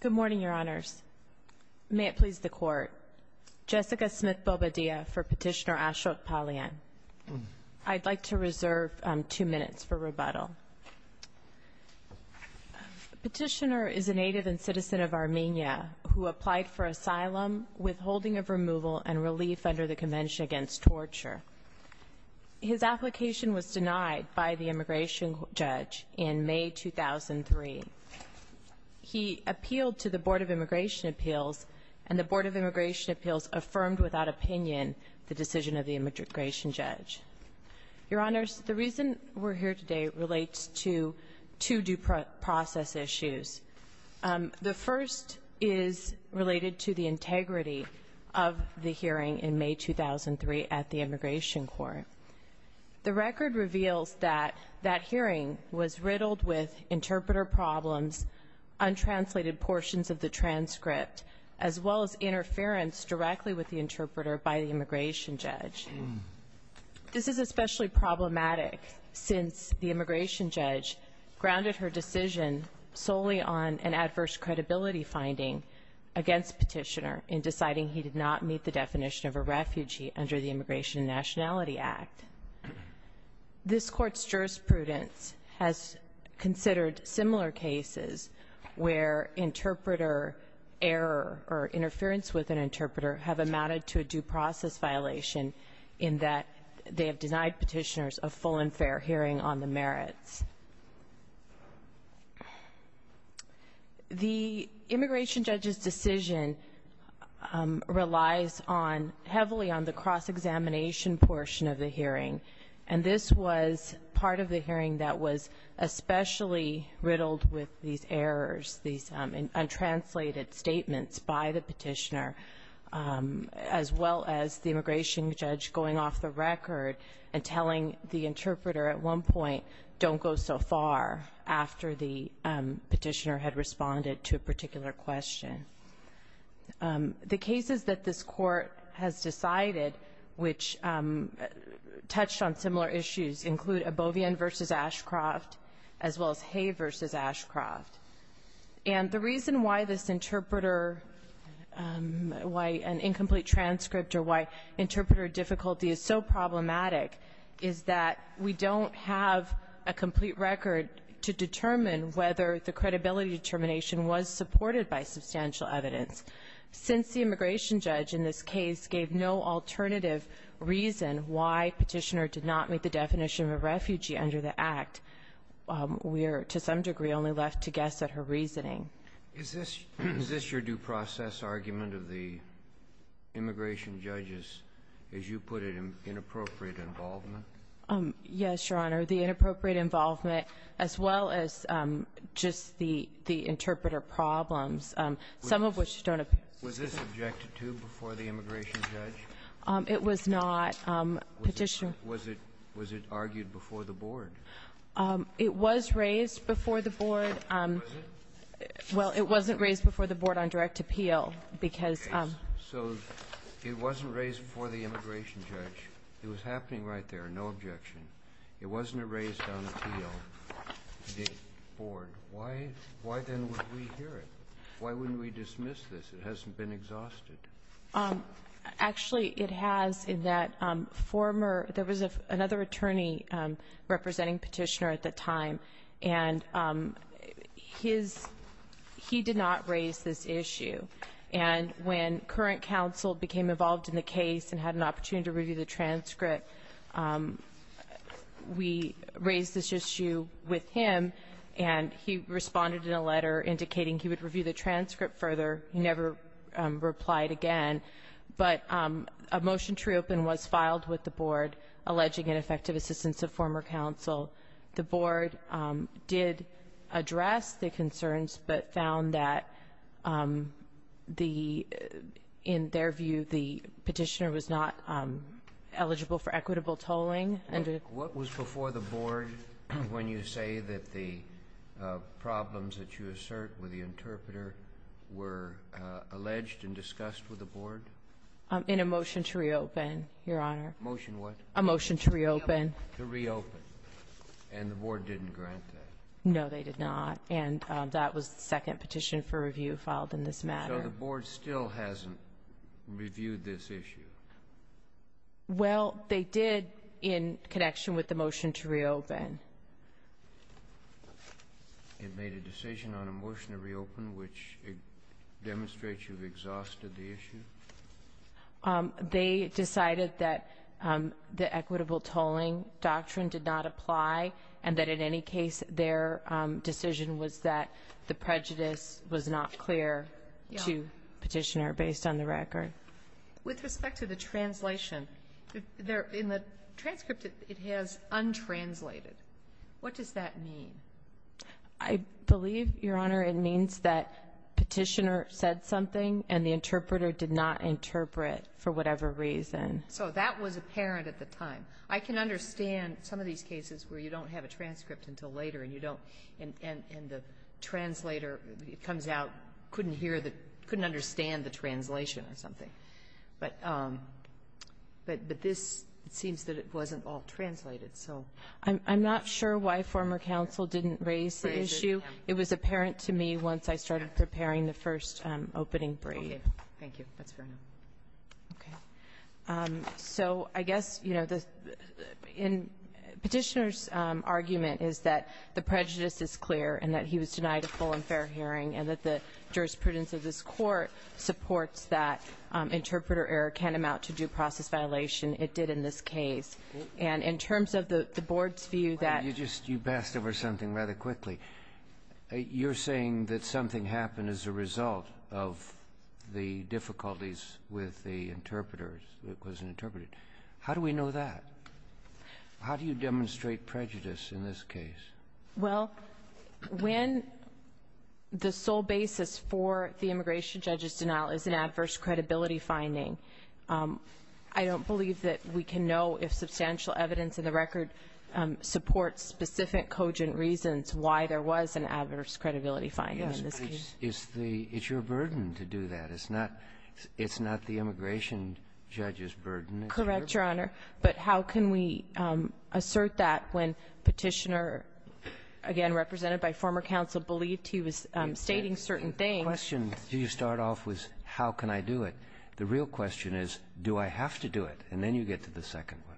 Good morning, Your Honors. May it please the Court. Jessica Smith-Bobadilla for Petitioner Ashok Palyan. I'd like to reserve two minutes for rebuttal. Petitioner is a native and citizen of Armenia who applied for asylum, withholding of removal, and relief under the Convention Against Torture. His application was denied by the immigration judge in May 2003. He appealed to the Board of Immigration Appeals, and the Board of Immigration Appeals affirmed without opinion the decision of the immigration judge. Your Honors, the reason we're here today relates to two due process issues. The first is related to the integrity of the hearing in May 2003 at the Immigration Court. The record reveals that that hearing was riddled with interpreter problems, untranslated portions of the transcript, as well as interference directly with the interpreter by the immigration judge. This is especially problematic since the immigration judge grounded her decision solely on an adverse credibility finding against Petitioner in deciding he did not meet the definition of This Court's jurisprudence has considered similar cases where interpreter error or interference with an interpreter have amounted to a due process violation in that they have denied Petitioner's a full and fair hearing on the merits. The immigration judge's decision relies on — heavily on the cross-examination portion of the hearing, and this was part of the hearing that was especially riddled with these errors, these untranslated statements by the Petitioner, as well as the immigration judge going off the record and telling the interpreter at one point, don't go so far after the Petitioner had responded to a particular question. The cases that this Court has decided which touched on similar issues include Abovian v. Ashcroft, as well as Hay v. Ashcroft. And the reason why this interpreter — why an incomplete transcript or why interpreter difficulty is so problematic is that we don't have a complete record to determine whether the credibility determination was supported by substantial evidence. Since the immigration judge in this case gave no alternative reason why Petitioner did not meet the definition of a refugee under the Act, we are, to some degree, only left to guess at her reasoning. Is this — is this your due process argument of the immigration judge's, as you put it, inappropriate involvement? Yes, Your Honor. The inappropriate involvement, as well as just the interpreter problems, some of which don't appear to be — Was this objected to before the immigration judge? It was not. Petitioner — Was it — was it argued before the Board? It was raised before the Board. Was it? Well, it wasn't raised before the Board on direct appeal because — So it wasn't raised before the immigration judge. It was happening right there, no objection. It wasn't raised on appeal before the Board. Why — why then would we hear it? Why wouldn't we dismiss this? It hasn't been exhausted. Actually, it has, in that former — there was another attorney representing Petitioner at the time, and his — he did not raise this issue. And when current counsel became involved in the case and had an opportunity to review the transcript, we raised this issue with him, and he responded in a letter indicating he would review the transcript further. He never replied again. But a motion to reopen was filed with the Board, alleging ineffective assistance of former counsel. The Board did address the concerns, but found that the — in their view, the What was before the Board when you say that the problems that you assert with the interpreter were alleged and discussed with the Board? In a motion to reopen, Your Honor. Motion what? A motion to reopen. To reopen. And the Board didn't grant that? No, they did not. And that was the second petition for review filed in this matter. So the Board still hasn't reviewed this issue? Well, they did in connection with the motion to reopen. It made a decision on a motion to reopen, which demonstrates you've exhausted the issue? They decided that the equitable tolling doctrine did not apply, and that in any case their decision was that the prejudice was not clear to Petitioner based on the record. With respect to the translation, in the transcript it has untranslated. What does that mean? I believe, Your Honor, it means that Petitioner said something and the interpreter did not interpret for whatever reason. So that was apparent at the time. I can understand some of these cases where you don't have a transcript until later and you don't — and the translator comes out, couldn't hear the — couldn't understand what he was saying. But this seems that it wasn't all translated. So — I'm not sure why former counsel didn't raise the issue. It was apparent to me once I started preparing the first opening brief. Okay. Thank you. That's fair enough. Okay. So I guess, you know, the — Petitioner's argument is that the prejudice is clear and that he was denied a full and fair hearing and that the jurisprudence of this Court supports that interpreter error can amount to due process violation. It did in this case. And in terms of the Board's view that — You just — you passed over something rather quickly. You're saying that something happened as a result of the difficulties with the interpreter that wasn't interpreted. How do we know that? How do you demonstrate prejudice in this case? Well, when the sole basis for the immigration judge's denial is an adverse credibility finding, I don't believe that we can know if substantial evidence in the record supports specific cogent reasons why there was an adverse credibility finding in this case. Yes. It's the — it's your burden to do that. It's not — it's not the immigration judge's burden. It's your — Correct, Your Honor. But how can we assert that when Petitioner, again, represented by former counsel, believed he was stating certain things? The question you start off with, how can I do it? The real question is, do I have to do it? And then you get to the second one.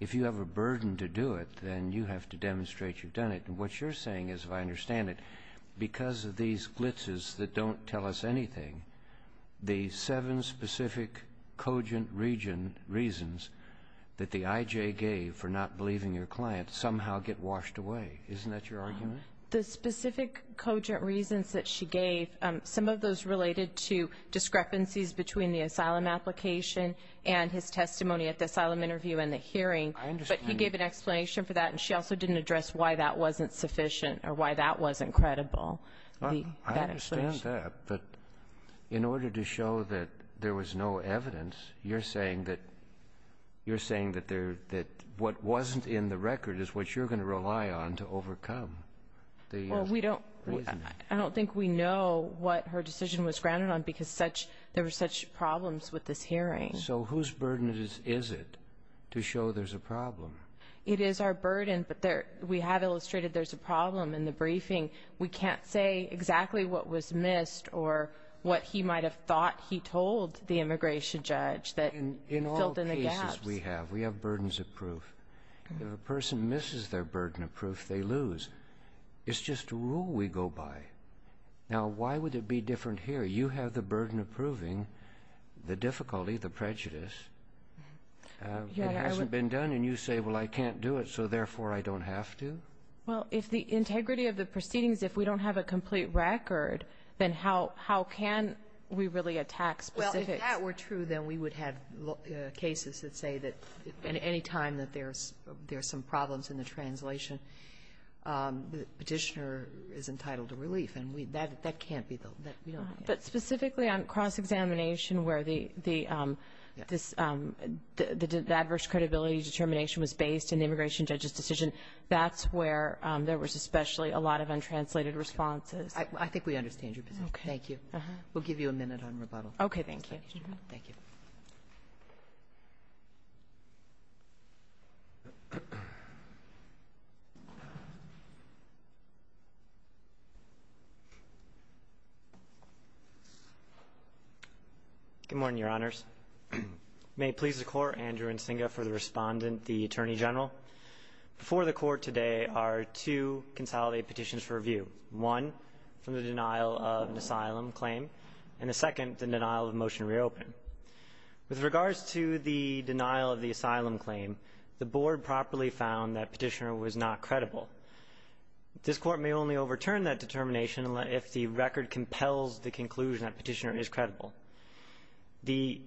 If you have a burden to do it, then you have to demonstrate you've done it. And what you're saying is, if I understand it, because of these glitzes that don't tell us anything, the seven specific cogent reasons that the I.J. gave for not believing your client somehow get washed away. Isn't that your argument? The specific cogent reasons that she gave, some of those related to discrepancies between the asylum application and his testimony at the asylum interview and the hearing. But he gave an explanation for that, and she also didn't address why that wasn't sufficient or why that wasn't credible. I understand that, but in order to show that there was no evidence, you're saying that what wasn't in the record is what you're going to rely on to overcome the reasoning. Well, I don't think we know what her decision was grounded on because there were such problems with this hearing. So whose burden is it to show there's a problem? It is our burden, but we have illustrated there's a problem in the briefing. We can't say exactly what was missed or what he might have thought he told the immigration judge that filled in the gaps. In all cases we have, we have burdens of proof. If a person misses their burden of proof, they lose. It's just a rule we go by. Now, why would it be different here? You have the burden of proving the difficulty, the prejudice. It hasn't been done, and you say, well, I can't do it, so therefore I don't have to? Well, if the integrity of the proceedings, if we don't have a complete record, then how can we really attack specifics? Well, if that were true, then we would have cases that say that any time that there are some problems in the translation, the Petitioner is entitled to relief. And that can't be the one. But specifically on cross-examination where the adverse credibility determination was based in the immigration judge's decision, that's where there was especially a lot of untranslated responses. I think we understand your position. Thank you. We'll give you a minute on rebuttal. Okay. Thank you. Thank you. Good morning, Your Honors. May it please the Court, Andrew Nsinga for the Respondent, the Attorney General. Before the Court today are two consolidated petitions for review, one from the denial of an asylum claim, and the second, the denial of a motion to reopen. With regards to the denial of the asylum claim, the Board properly found that Petitioner was not credible. This Court may only overturn that determination if the record compels the conclusion that Petitioner is credible. The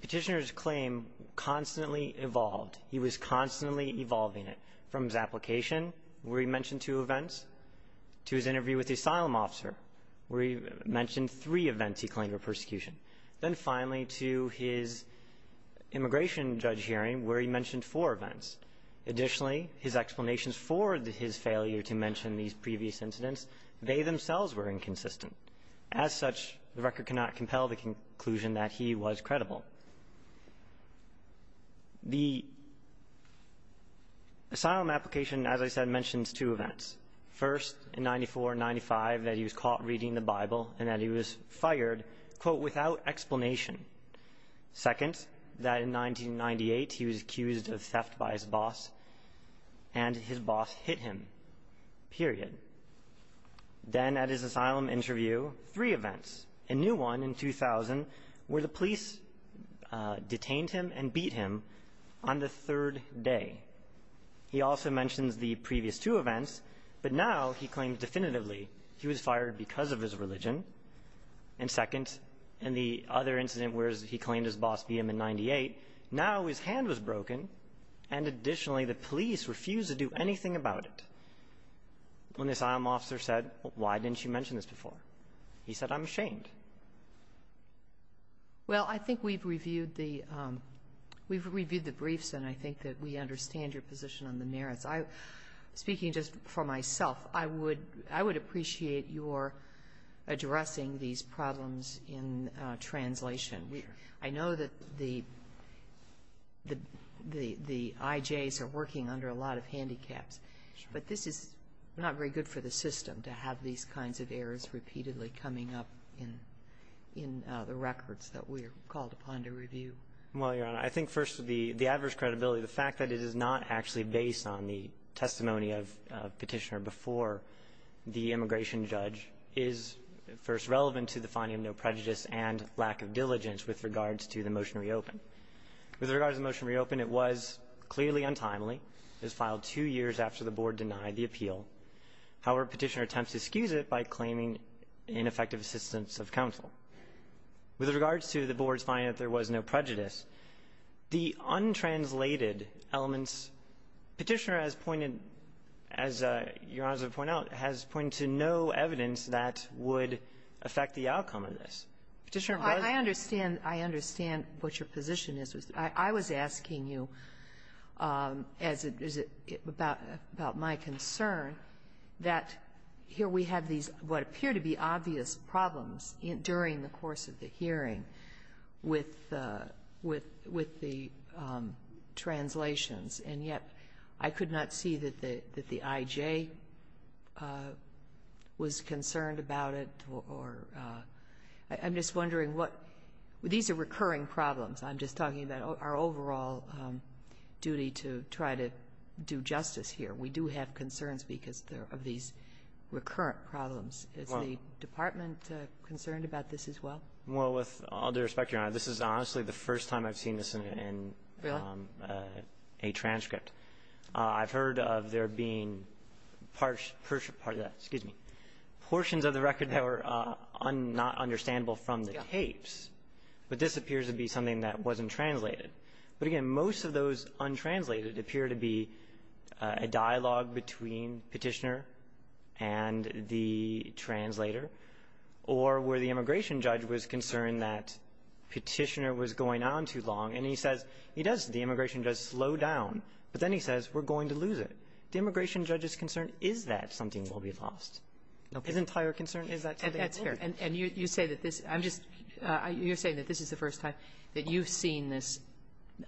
Petitioner's claim constantly evolved. He was constantly evolving it, from his application where he mentioned two events to his interview with the asylum officer where he mentioned three events he claimed were persecution, then finally to his immigration judge hearing where he mentioned four events. Additionally, his explanations for his failure to mention these previous incidents, they themselves were inconsistent. As such, the record cannot compel the conclusion that he was credible. The asylum application, as I said, mentions two events. First, in 94 and 95 that he was caught reading the Bible and that he was fired, quote, without explanation. Second, that in 1998 he was accused of theft by his boss and his boss hit him, period. Then at his asylum interview, three events. A new one in 2000 where the police detained him and beat him on the third day. He also mentions the previous two events, but now he claims definitively he was fired because of his religion. And second, in the other incident where he claimed his boss beat him in 98, now his hand was broken, and additionally the police refused to do anything about it. When this asylum officer said, why didn't you mention this before? He said, I'm ashamed. Well, I think we've reviewed the briefs and I think that we understand your position on the merits. Speaking just for myself, I would appreciate your addressing these problems in translation. I know that the IJs are working under a lot of handicaps. But this is not very good for the system to have these kinds of errors repeatedly coming up in the records that we are called upon to review. Well, Your Honor, I think first the adverse credibility, the fact that it is not actually based on the testimony of Petitioner before the immigration judge is first relevant to the finding of no prejudice and lack of diligence with regards to the motion to reopen. With regards to the motion to reopen, it was clearly untimely. It was filed two years after the Board denied the appeal. However, Petitioner attempts to excuse it by claiming ineffective assistance of counsel. With regards to the Board's finding that there was no prejudice, the untranslated elements, Petitioner has pointed, as Your Honor has pointed out, has pointed to no evidence that would affect the outcome of this. Petitioner was not. I understand. I understand what your position is. I was asking you as it is about my concern that here we have these what appear to be obvious problems during the course of the hearing with the translations, and yet I could not see that the I.J. was concerned about it or I'm just wondering what these are recurring problems. I'm just talking about our overall duty to try to do justice here. We do have concerns because of these recurrent problems. Is the department concerned about this as well? Well, with all due respect, Your Honor, this is honestly the first time I've seen this in a transcript. I've heard of there being part of that, excuse me, portions of the record that were not understandable from the tapes, but this appears to be something that wasn't translated. But again, most of those untranslated appear to be a dialogue between Petitioner and the translator, or where the immigration judge was concerned that Petitioner was going on too long, and he says, he does, the immigration judge, slow down, but then he says we're going to lose it. The immigration judge's concern is that something will be lost. His entire concern is that something will be lost. That's fair. And you say that this, I'm just, you're saying that this is the first time that you've seen this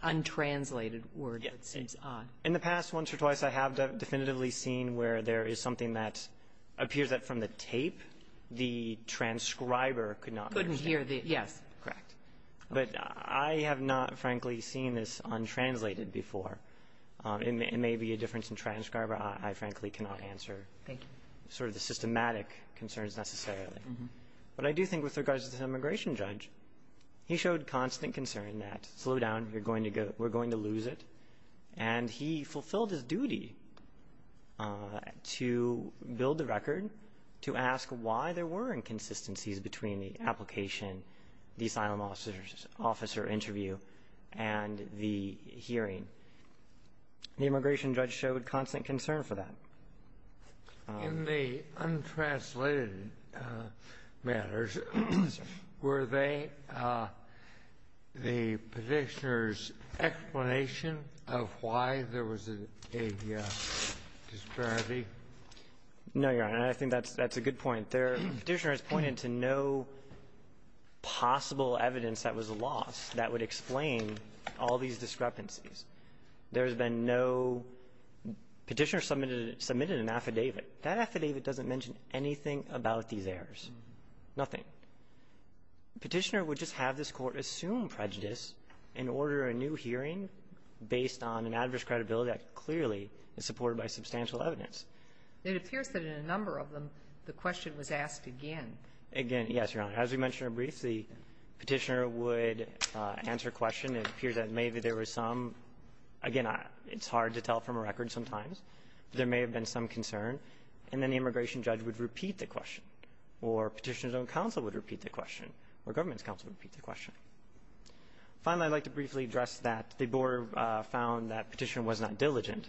untranslated word that seems odd. Yes. In the past once or twice I have definitively seen where there is something that appears that from the tape the transcriber could not understand. Couldn't hear the, yes. Correct. But I have not, frankly, seen this untranslated before. It may be a difference in transcriber. I, frankly, cannot answer. Thank you. Sort of the systematic concerns necessarily. Mm-hmm. But I do think with regards to the immigration judge, he showed constant concern that slow down, you're going to go, we're going to lose it. And he fulfilled his duty to build the record, to ask why there were inconsistencies between the application, the asylum officer interview, and the hearing. The immigration judge showed constant concern for that. In the untranslated matters, were they the petitioner's explanation of why there was a disparity? No, Your Honor. I think that's a good point. Their petitioner has pointed to no possible evidence that was lost that would explain all these discrepancies. There has been no petitioner submitted an affidavit. That affidavit doesn't mention anything about these errors, nothing. Petitioner would just have this Court assume prejudice and order a new hearing based on an adverse credibility that clearly is supported by substantial evidence. It appears that in a number of them, the question was asked again. Again, yes, Your Honor. As we mentioned in a brief, the petitioner would answer a question. It appears that maybe there was some, again, it's hard to tell from a record sometimes, there may have been some concern. And then the immigration judge would repeat the question, or petitioner's own counsel would repeat the question, or government's counsel would repeat the question. Finally, I'd like to briefly address that the board found that petitioner was not diligent.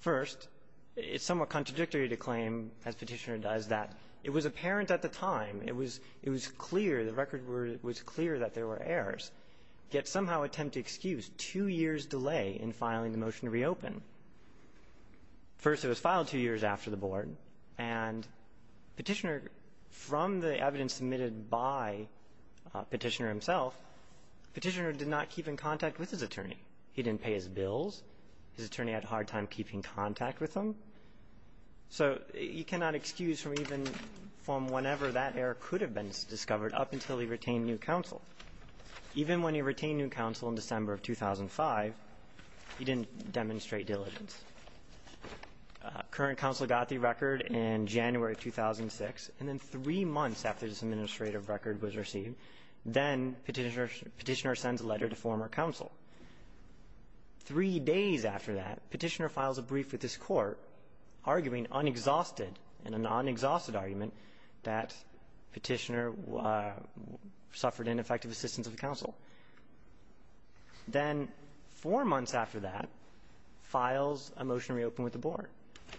First, it's somewhat contradictory to claim, as Petitioner does, that it was apparent at the time, it was clear, the record was clear that there were errors, yet somehow attempt to excuse two years' delay in filing the motion to reopen. First, it was filed two years after the board, and Petitioner, from the evidence submitted by Petitioner himself, Petitioner did not keep in contact with his attorney. He didn't pay his bills. His attorney had a hard time keeping contact with him. So you cannot excuse from even from whenever that error could have been discovered up until he retained new counsel. Even when he retained new counsel in December of 2005, he didn't demonstrate diligence. Current counsel got the record in January of 2006, and then three months after this administrative record was received, then Petitioner sends a letter to former counsel. Three days after that, Petitioner files a brief with his court, arguing unexhausted in a non-exhausted argument that Petitioner suffered ineffective assistance of counsel. Then four months after that, files a motion to reopen with the board.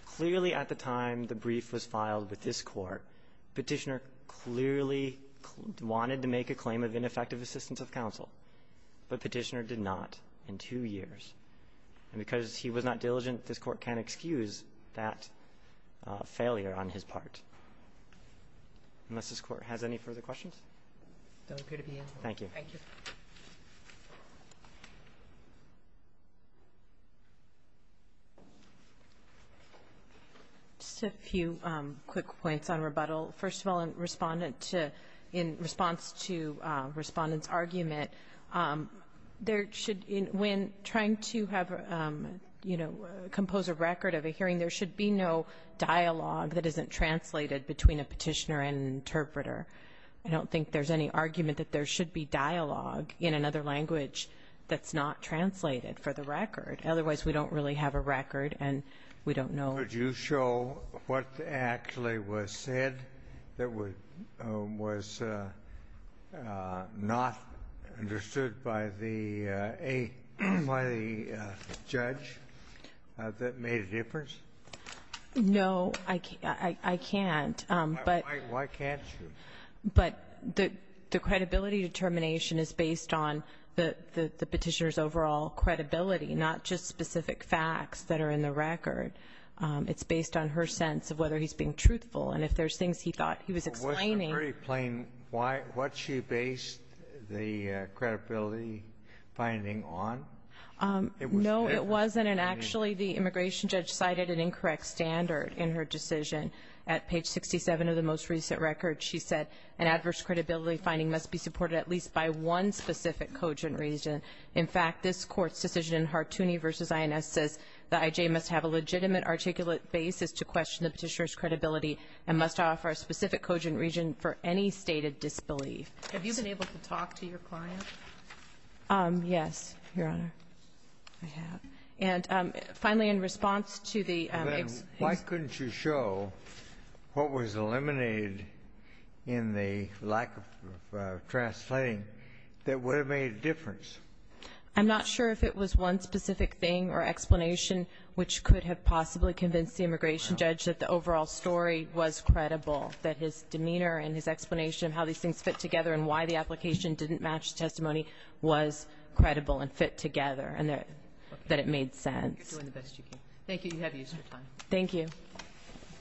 Clearly at the time the brief was filed with this court, Petitioner clearly wanted to make a claim of ineffective assistance of counsel, but Petitioner did not in two years. And because he was not diligent, this Court can't excuse that failure on his part. Unless this Court has any further questions? I don't appear to be in. Thank you. Just a few quick points on rebuttal. First of all, in response to Respondent's argument, there should, when trying to have, you know, compose a record of a hearing, there should be no dialogue that isn't translated between a Petitioner and an interpreter. I don't think there's any argument that there should be dialogue in another language that's not translated for the record. Otherwise, we don't really have a record, and we don't know. Would you show what actually was said that was not understood by the judge that made a difference? No, I can't. Why can't you? But the credibility determination is based on the Petitioner's overall credibility, not just specific facts that are in the record. It's based on her sense of whether he's being truthful. And if there's things he thought he was explaining — Well, wasn't it very plain what she based the credibility finding on? No, it wasn't. And actually, the immigration judge cited an incorrect standard in her decision. At page 67 of the most recent record, she said an adverse credibility finding must be supported at least by one specific cogent reason. In fact, this Court's decision in Hartooni v. INS says the IJ must have a legitimate articulate basis to question the Petitioner's credibility and must offer a specific cogent reason for any stated disbelief. Have you been able to talk to your client? Yes, Your Honor. I have. And finally, in response to the ex- But why couldn't you show what was eliminated in the lack of translating that would have made a difference? I'm not sure if it was one specific thing or explanation which could have possibly convinced the immigration judge that the overall story was credible, that his demeanor and his explanation of how these things fit together and why the application didn't match the testimony was credible and fit together, and that it made sense. You're doing the best you can. Thank you. You have the extra time. Thank you.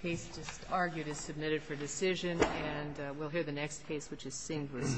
The case just argued is submitted for decision, and we'll hear the next case, which is Singh v. INS.